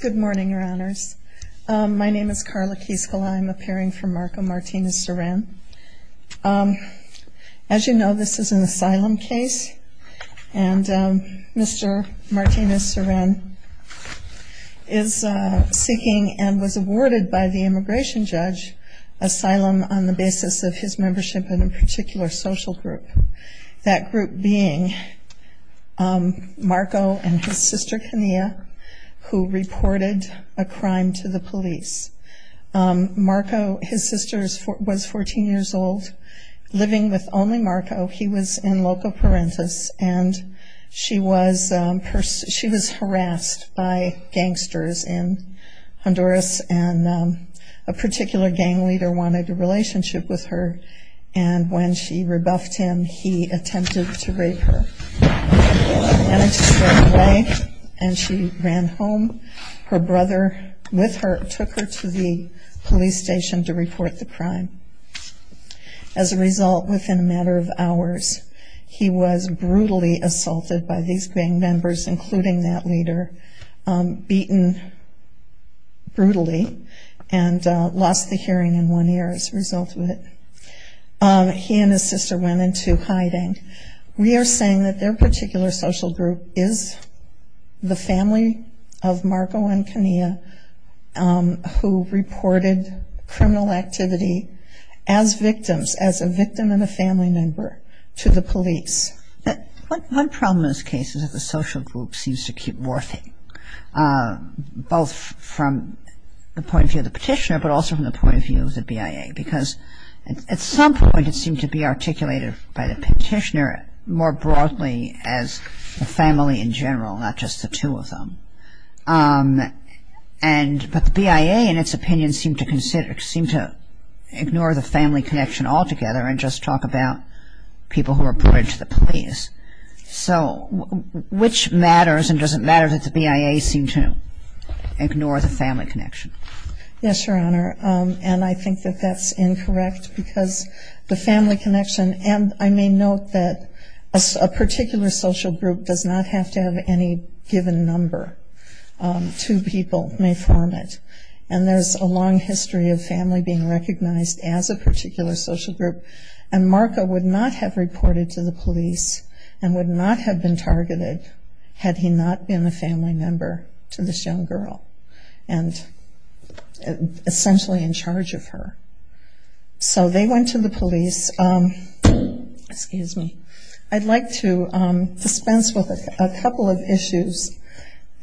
Good morning, Your Honors. My name is Karla Kieskela, I'm appearing for Marco Martinez-Seren. As you know, this is an asylum case, and Mr. Martinez-Seren is seeking, and was awarded by the immigration judge, asylum on the basis of his membership in a particular social group. That group being Marco and his sister Kenia, who reported a crime to the police. His sister was 14 years old, living with only Marco. He was in Loco Parentis, and she was harassed by gangsters in Honduras, and a particular gang leader wanted a relationship with her. And when she rebuffed him, he attempted to rape her. And she ran home. Her brother with her took her to the police station to report the crime. As a result, within a matter of hours, he was brutally assaulted by these gang members, including that leader, beaten brutally, and lost the hearing in one year as a result of it. He and his sister went into hiding. We are saying that their particular social group is the family of Marco and Kenia, who reported criminal activity as victims, as a victim and a family member, to the police. One problem in this case is that the social group seems to keep morphing, both from the point of view of the petitioner, but also from the point of view of the BIA. Because at some point it seemed to be articulated by the petitioner more broadly as the family in general, not just the two of them. But the BIA, in its opinion, seemed to ignore the family connection altogether and just talk about people who were brought into the police. So which matters, and does it matter that the BIA seem to ignore the family connection? Yes, Your Honor. And I think that that's incorrect because the family connection, and I may note that a particular social group does not have to have any given number. Two people may form it. And there's a long history of family being recognized as a particular social group. And Marco would not have reported to the police and would not have been targeted had he not been a family member to this young girl. And essentially in charge of her. So they went to the police. I'd like to dispense with a couple of issues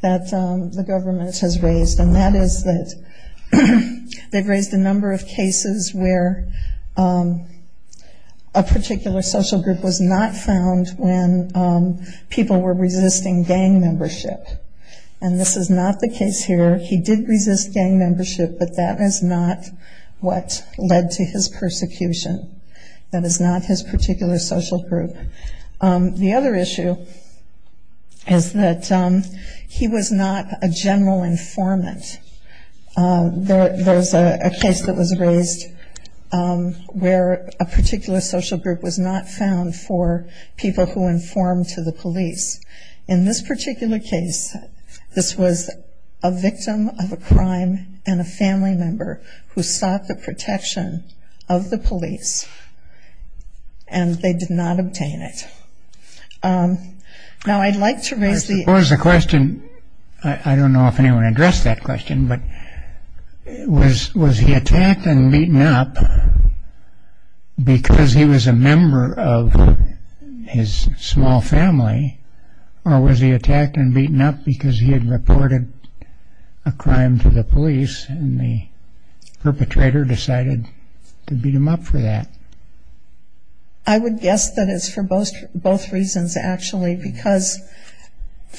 that the government has raised, and that is that they've raised a number of cases where a particular social group was not found when people were resisting gang membership. And this is not the case here. He did resist gang membership, but that is not what led to his persecution. That is not his particular social group. The other issue is that he was not a general informant. There's a case that was raised where a particular social group was not found for people who informed to the police. In this particular case, this was a victim of a crime and a family member who sought the protection of the police. And they did not obtain it. Now I'd like to raise the... I suppose the question, I don't know if anyone addressed that question, but was he attacked and beaten up because he was a member of his small family? Or was he attacked and beaten up because he had reported a crime to the police, and the perpetrator decided to beat him up for that? I would guess that it's for both reasons, actually, because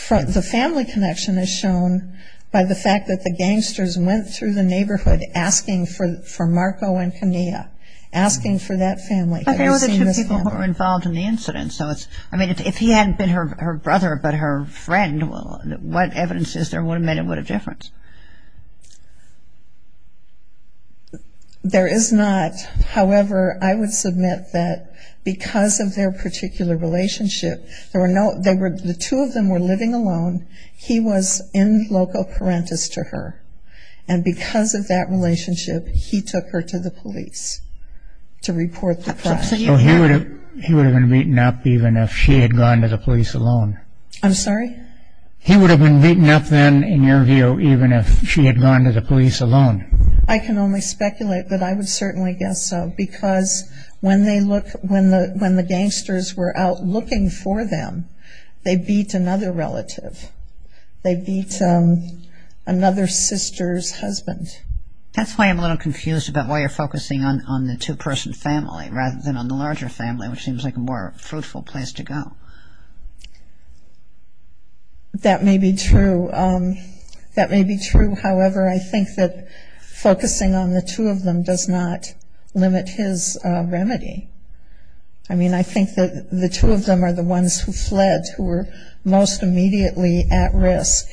the family connection is shown by the fact that the gangsters went through the neighborhood asking for Marco and Kenia, asking for that family. But they were the two people who were involved in the incident. So if he hadn't been her brother but her friend, what evidence is there would have made a difference? There is not. However, I would submit that because of their particular relationship, the two of them were living alone. He was in loco parentis to her. And because of that relationship, he took her to the police to report the crime. So he would have been beaten up even if she had gone to the police alone? I'm sorry? He would have been beaten up then, in your view, even if she had gone to the police alone? I can only speculate, but I would certainly guess so, because when the gangsters were out looking for them, they beat another relative. They beat another sister's husband. That's why I'm a little confused about why you're focusing on the two-person family rather than on the larger family, which seems like a more fruitful place to go. That may be true. That may be true. However, I think that focusing on the two of them does not limit his remedy. I mean, I think that the two of them are the ones who fled, who were most immediately at his,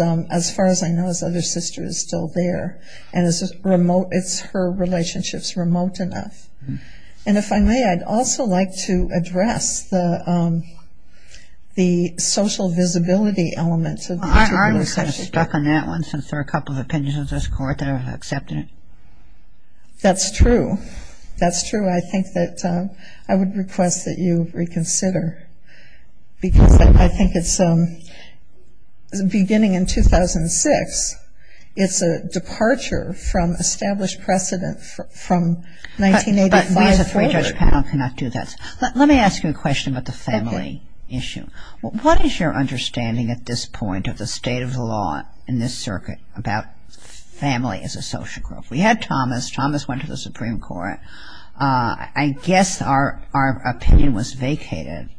as far as I know, his other sister is still there, and it's her relationship's remote enough. And if I may, I'd also like to address the social visibility element. I'm already kind of stuck on that one, since there are a couple of opinions in this court that have accepted it. That's true. That's true. I think that I would request that you reconsider, because I think it's beginning in 2006. It's a departure from established precedent from 1985. But we as a three-judge panel cannot do that. Let me ask you a question about the family issue. What is your understanding at this point of the state of the law in this circuit about family as a social group? We had Thomas. Thomas went to the Supreme Court. I guess our opinion was vacated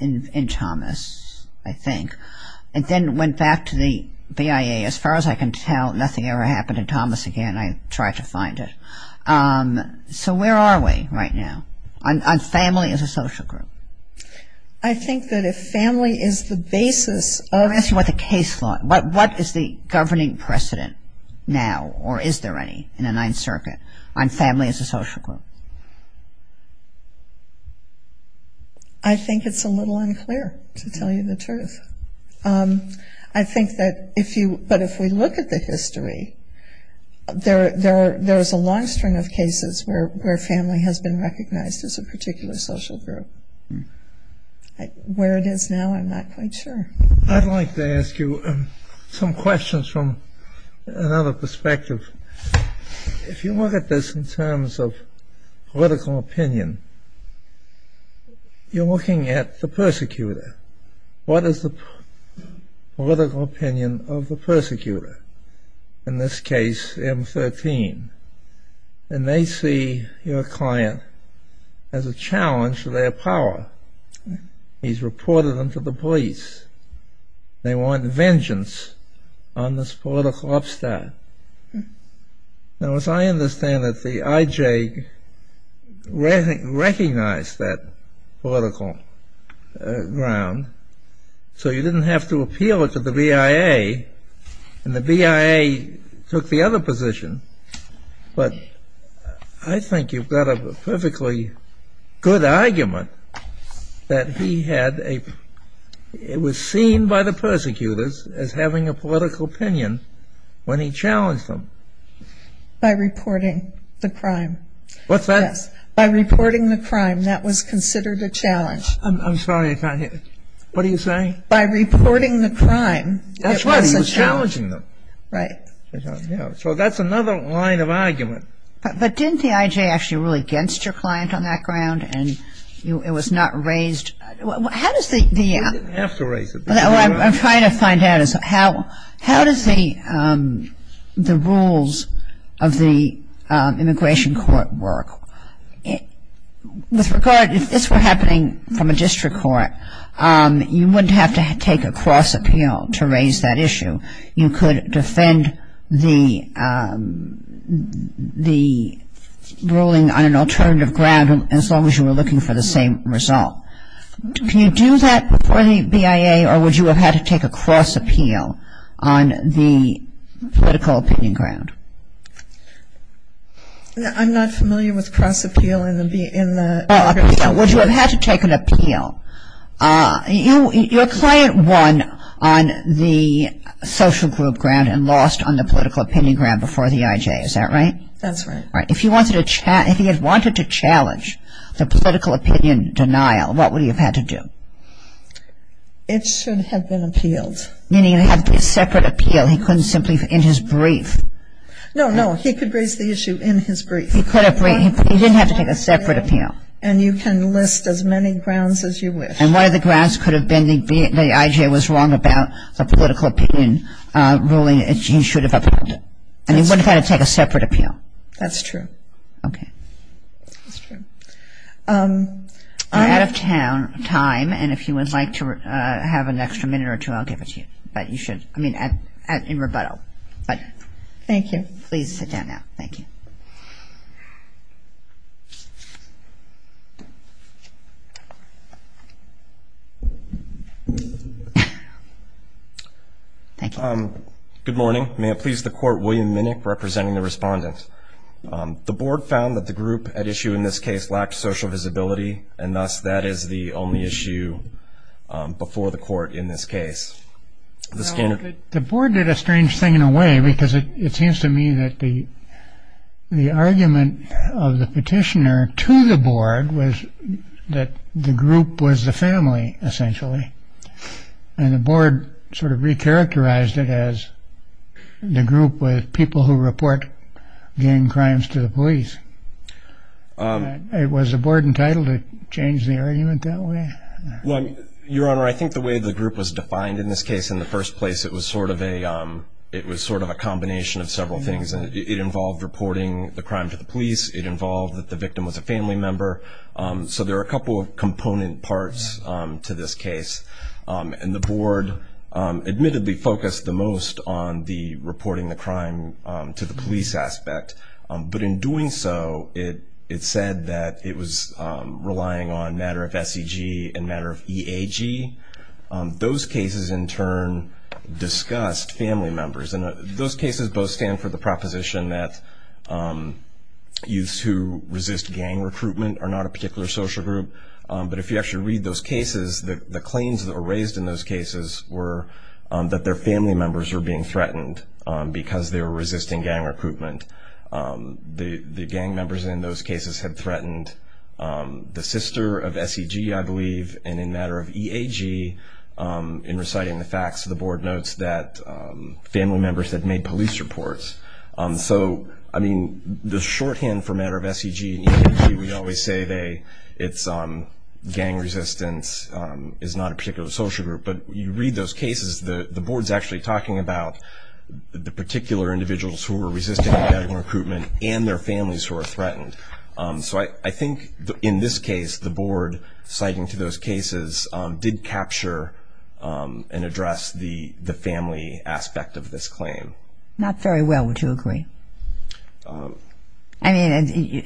in Thomas, I think, and then went back to the BIA. As far as I can tell, nothing ever happened to Thomas again. I tried to find it. So where are we right now on family as a social group? I think that if family is the basis of the case law, what is the governing precedent now, or is there any in the Ninth Circuit, on family as a social group? I think it's a little unclear, to tell you the truth. I think that if we look at the history, there is a long string of cases where family has been recognized as a particular social group. Where it is now, I'm not quite sure. I'd like to ask you some questions from another perspective. If you look at this in terms of political opinion, you're looking at the persecutor. What is the political opinion of the persecutor? In this case, M13. And they see your client as a challenge to their power. He's reported them to the police. They want vengeance on this political upstart. Now, as I understand it, the IJ recognized that political ground. So you didn't have to appeal it to the BIA. And the BIA took the other position. But I think you've got a perfectly good argument that it was seen by the persecutors as having a political opinion when he challenged them. By reporting the crime. What's that? By reporting the crime, that was considered a challenge. I'm sorry, I can't hear you. What are you saying? By reporting the crime, it was a challenge. That's right, he was challenging them. Right. So that's another line of argument. But didn't the IJ actually rule against your client on that ground? And it was not raised? How does the- You didn't have to raise it. What I'm trying to find out is how does the rules of the immigration court work? With regard, if this were happening from a district court, you wouldn't have to take a cross appeal to raise that issue. You could defend the ruling on an alternative ground as long as you were looking for the same result. Can you do that before the BIA, or would you have had to take a cross appeal on the political opinion ground? I'm not familiar with cross appeal in the- Would you have had to take an appeal? Your client won on the social group ground and lost on the political opinion ground before the IJ, is that right? That's right. Right. If he had wanted to challenge the political opinion denial, what would he have had to do? It should have been appealed. Meaning he would have had a separate appeal. He couldn't simply, in his brief. No, no, he could raise the issue in his brief. He could have, he didn't have to take a separate appeal. And you can list as many grounds as you wish. And one of the grounds could have been the IJ was wrong about the political opinion ruling, and he should have appealed it. And he wouldn't have had to take a separate appeal. That's true. Okay. That's true. We're out of time, and if you would like to have an extra minute or two, I'll give it to you. But you should, I mean, in rebuttal. But- Thank you. Please sit down now. Thank you. Thank you. Good morning. May it please the court, William Minnick, representing the respondent. The board found that the group at issue in this case lacked social visibility, and thus that is the only issue before the court in this case. The board did a strange thing in a way, because it seems to me that the argument of the petitioner to the board was that the group was the family, essentially. And the board sort of recharacterized it as the group with people who report gang crimes to the police. Was the board entitled to change the argument that way? Well, Your Honor, I think the way the group was defined in this case in the first place, it was sort of a combination of several things. It involved reporting the crime to the police. It involved that the victim was a family member. So there are a couple of component parts to this case. And the board admittedly focused the most on the reporting the crime to the police aspect. But in doing so, it said that it was relying on matter of SEG and matter of EAG. Those cases, in turn, discussed family members. And those cases both stand for the proposition that youths who resist gang recruitment are not a particular social group. But if you actually read those cases, the claims that were raised in those cases were that their family members were being threatened because they were resisting gang recruitment. The gang members in those cases had threatened the sister of SEG, I believe, and in matter of EAG. In reciting the facts, the board notes that family members had made police reports. So, I mean, the shorthand for matter of SEG and EAG, we always say it's gang resistance, is not a particular social group. But you read those cases, the board's actually talking about the particular individuals who were resisting gang recruitment and their families who were threatened. So I think in this case, the board citing to those cases did capture and address the family aspect of this claim. Not very well, would you agree? I mean,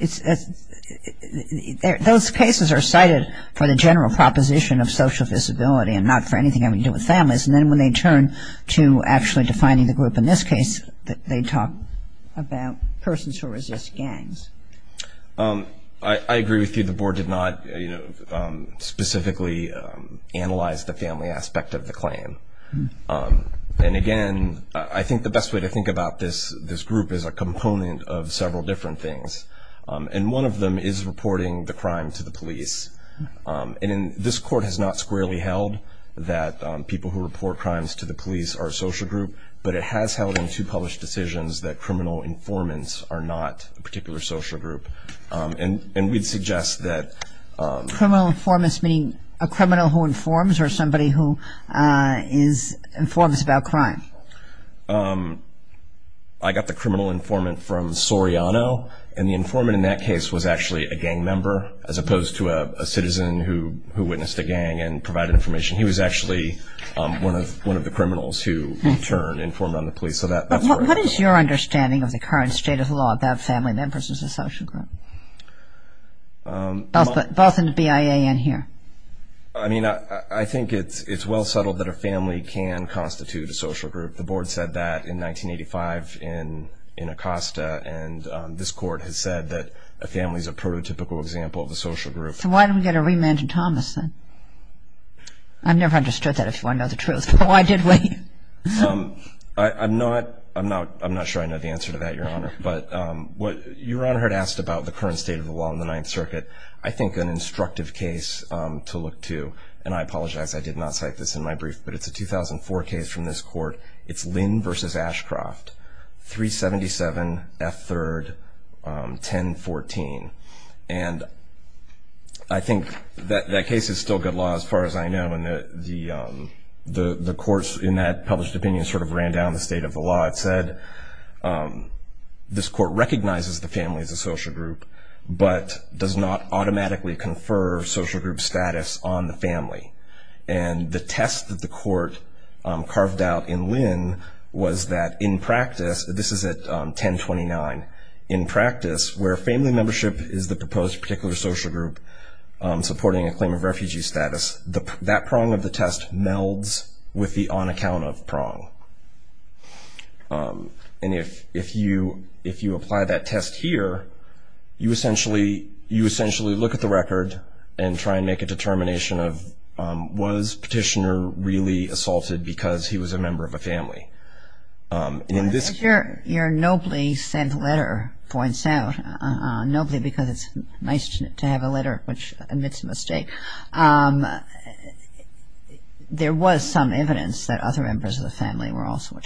those cases are cited for the general proposition of social visibility and not for anything having to do with families. And then when they turn to actually defining the group in this case, they talk about persons who resist gangs. I agree with you. The board did not specifically analyze the family aspect of the claim. And again, I think the best way to think about this group is a component of several different things. And one of them is reporting the crime to the police. And this court has not squarely held that people who report crimes to the police are a social group, but it has held in two published decisions that criminal informants are not a particular social group. And we'd suggest that... Criminal informants, meaning a criminal who informs or somebody who informs about crime? I got the criminal informant from Soriano. And the informant in that case was actually a gang member, as opposed to a citizen who witnessed a gang and provided information. He was actually one of the criminals who, in turn, informed on the police. What is your understanding of the current state of the law about family members as a social group? Both in the BIA and here. I mean, I think it's well settled that a family can constitute a social group. The board said that in 1985 in Acosta. And this court has said that a family is a prototypical example of a social group. So why don't we get a remand to Thomas, then? I've never understood that, if you want to know the truth. Why did we? I'm not sure I know the answer to that, Your Honor. But what Your Honor had asked about the current state of the law in the Ninth Circuit, I think an instructive case to look to, and I apologize, I did not cite this in my brief, but it's a 2004 case from this court. It's Lynn v. Ashcroft, 377 F. 3rd, 1014. And I think that case is still good law, as far as I know. And the courts in that published opinion sort of ran down the state of the law. It said this court recognizes the family as a social group, but does not automatically confer social group status on the family. And the test that the court carved out in Lynn was that in practice, this is at 1029, in practice where family membership is the proposed particular social group supporting a claim of refugee status, that prong of the test melds with the on-account-of prong. And if you apply that test here, you essentially look at the record and try and make a determination of was Petitioner really assaulted because he was a member of a family. Your nobly sent letter points out, nobly because it's nice to have a letter which admits a mistake. There was some evidence that other members of the family were also,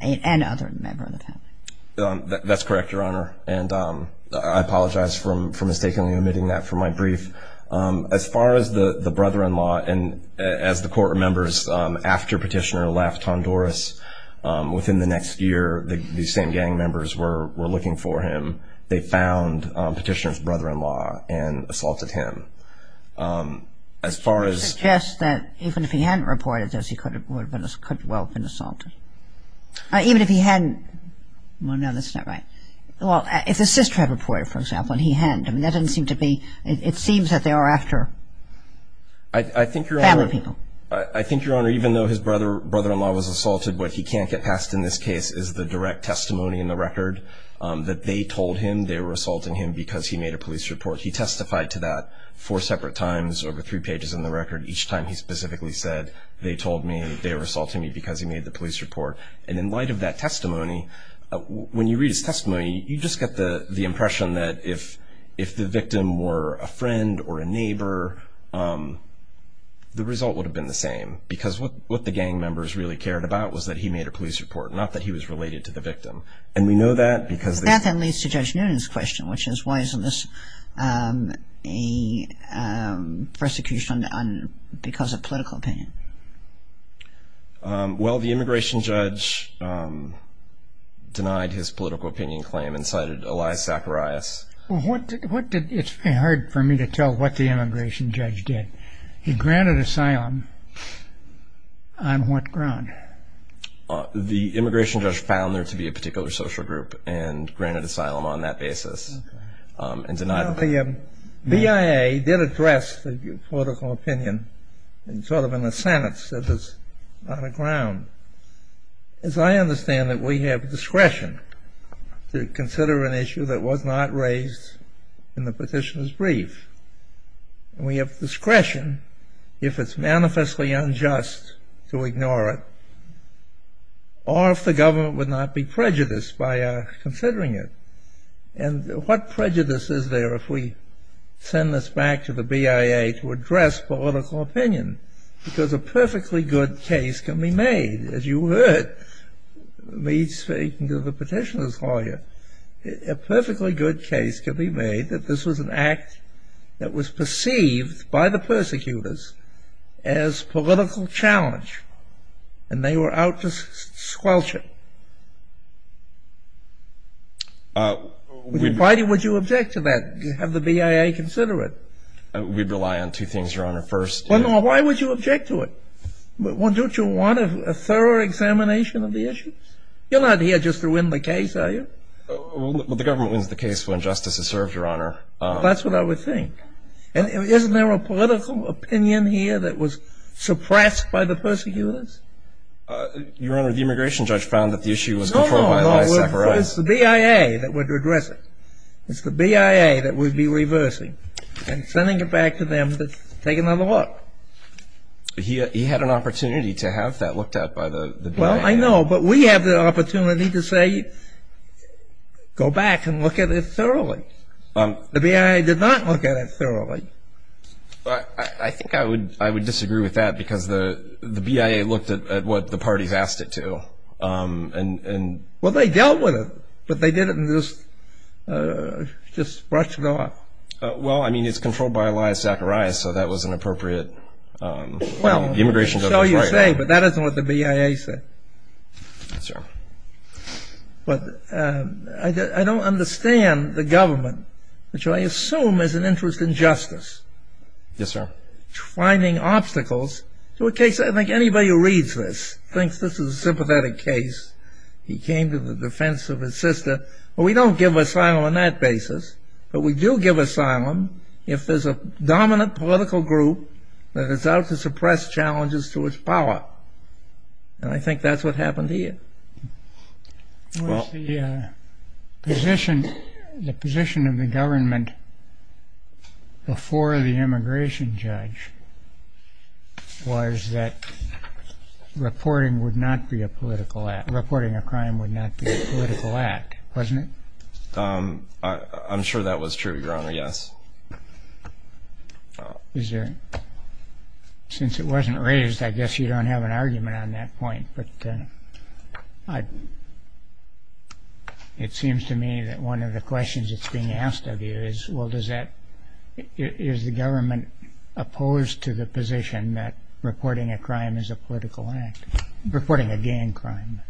and other members of the family. That's correct, Your Honor. And I apologize for mistakenly omitting that from my brief. As far as the brother-in-law, and as the court remembers, after Petitioner left Honduras, within the next year, these same gang members were looking for him. They found Petitioner's brother-in-law and assaulted him. As far as... You suggest that even if he hadn't reported this, he could well have been assaulted. Even if he hadn't... Well, no, that's not right. Well, if his sister had reported, for example, and he hadn't, that doesn't seem to be... It seems that they are after family people. I think, Your Honor, even though his brother-in-law was assaulted, what he can't get past in this case is the direct testimony in the record that they told him they were assaulting him because he made a police report. He testified to that four separate times, over three pages in the record, each time he specifically said, they told me they were assaulting me because he made the police report. And in light of that testimony, when you read his testimony, you just get the impression that if the victim were a friend or a neighbor, the result would have been the same, because what the gang members really cared about was that he made a police report, not that he was related to the victim. And we know that because... That then leads to Judge Noonan's question, which is why isn't this a persecution because of political opinion? Well, the immigration judge denied his political opinion claim and cited Elias Zacharias. It's very hard for me to tell what the immigration judge did. He granted asylum on what ground? The immigration judge found there to be a particular social group and granted asylum on that basis and denied it. The BIA did address the political opinion sort of in a sense that it's not a ground. As I understand it, we have discretion to consider an issue that was not raised in the petitioner's brief. We have discretion if it's manifestly unjust to ignore it or if the government would not be prejudiced by considering it. And what prejudice is there if we send this back to the BIA to address political opinion? Because a perfectly good case can be made. A perfectly good case can be made that this was an act that was perceived by the persecutors as political challenge and they were out to squelch it. Why would you object to that? Have the BIA consider it? We'd rely on two things, Your Honor. First... Why would you object to it? Don't you want a thorough examination of the issue? You're not here just to win the case, are you? Well, the government wins the case when justice is served, Your Honor. That's what I would think. And isn't there a political opinion here that was suppressed by the persecutors? Your Honor, the immigration judge found that the issue was controlled by... No, no, no. It's the BIA that would address it. It's the BIA that would be reversing and sending it back to them to take another look. He had an opportunity to have that looked at by the BIA. Well, I know, but we have the opportunity to say, go back and look at it thoroughly. The BIA did not look at it thoroughly. I think I would disagree with that because the BIA looked at what the parties asked it to. Well, they dealt with it, but they didn't just brush it off. Well, I mean, it's controlled by Elias Zacharias, so that was an appropriate... That's all you say, but that isn't what the BIA said. Yes, sir. But I don't understand the government, which I assume is an interest in justice. Yes, sir. Finding obstacles to a case. I think anybody who reads this thinks this is a sympathetic case. He came to the defense of his sister. Well, we don't give asylum on that basis, but we do give asylum if there's a dominant political group that is out to suppress challenges to its power, and I think that's what happened here. The position of the government before the immigration judge was that reporting a crime would not be a political act, wasn't it? I'm sure that was true, Your Honor, yes. Since it wasn't raised, I guess you don't have an argument on that point, but it seems to me that one of the questions that's being asked of you is, well, is the government opposed to the position that reporting a crime is a political act, reporting a gang crime?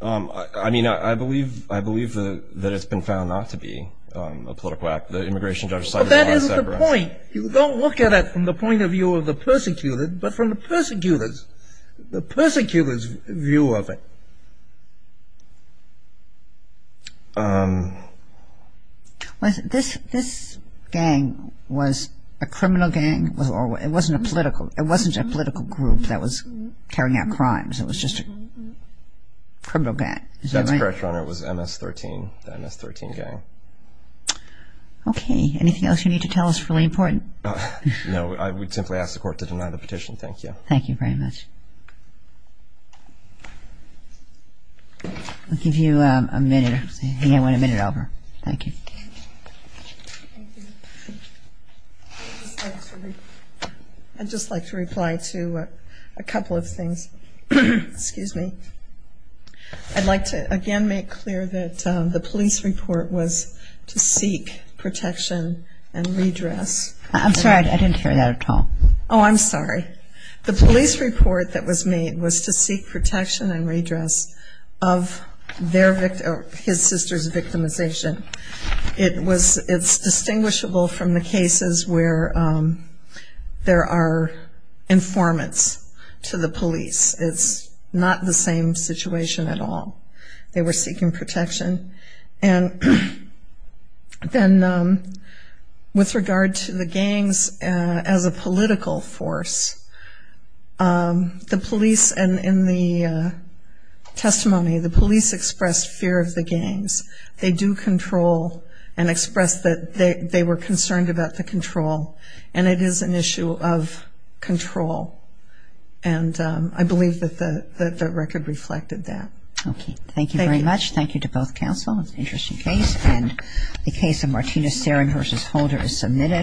I mean, I believe that it's been found not to be a political act. The immigration judge cited it as separate. Well, that isn't the point. You don't look at it from the point of view of the persecuted, but from the persecutor's view of it. This gang was a criminal gang. It wasn't a political group that was carrying out crimes. It was just a criminal gang. Is that right? That's correct, Your Honor. It was MS-13, the MS-13 gang. Okay. Anything else you need to tell us is really important? No. I would simply ask the Court to deny the petition. Thank you. Thank you very much. I'll give you a minute. I think I went a minute over. Thank you. Thank you. I'd just like to reply to a couple of things. Excuse me. I'd like to again make clear that the police report was to seek protection and redress. I'm sorry, I didn't hear that at all. Oh, I'm sorry. The police report that was made was to seek protection and redress of his sister's victimization. It's distinguishable from the cases where there are informants to the police. It's not the same situation at all. They were seeking protection. And then with regard to the gangs as a political force, the police in the testimony, the police expressed fear of the gangs. They do control and expressed that they were concerned about the control. And it is an issue of control. And I believe that the record reflected that. Okay. Thank you very much. Thank you to both counsel. It's an interesting case. And the case of Martina Seren versus Holder is submitted.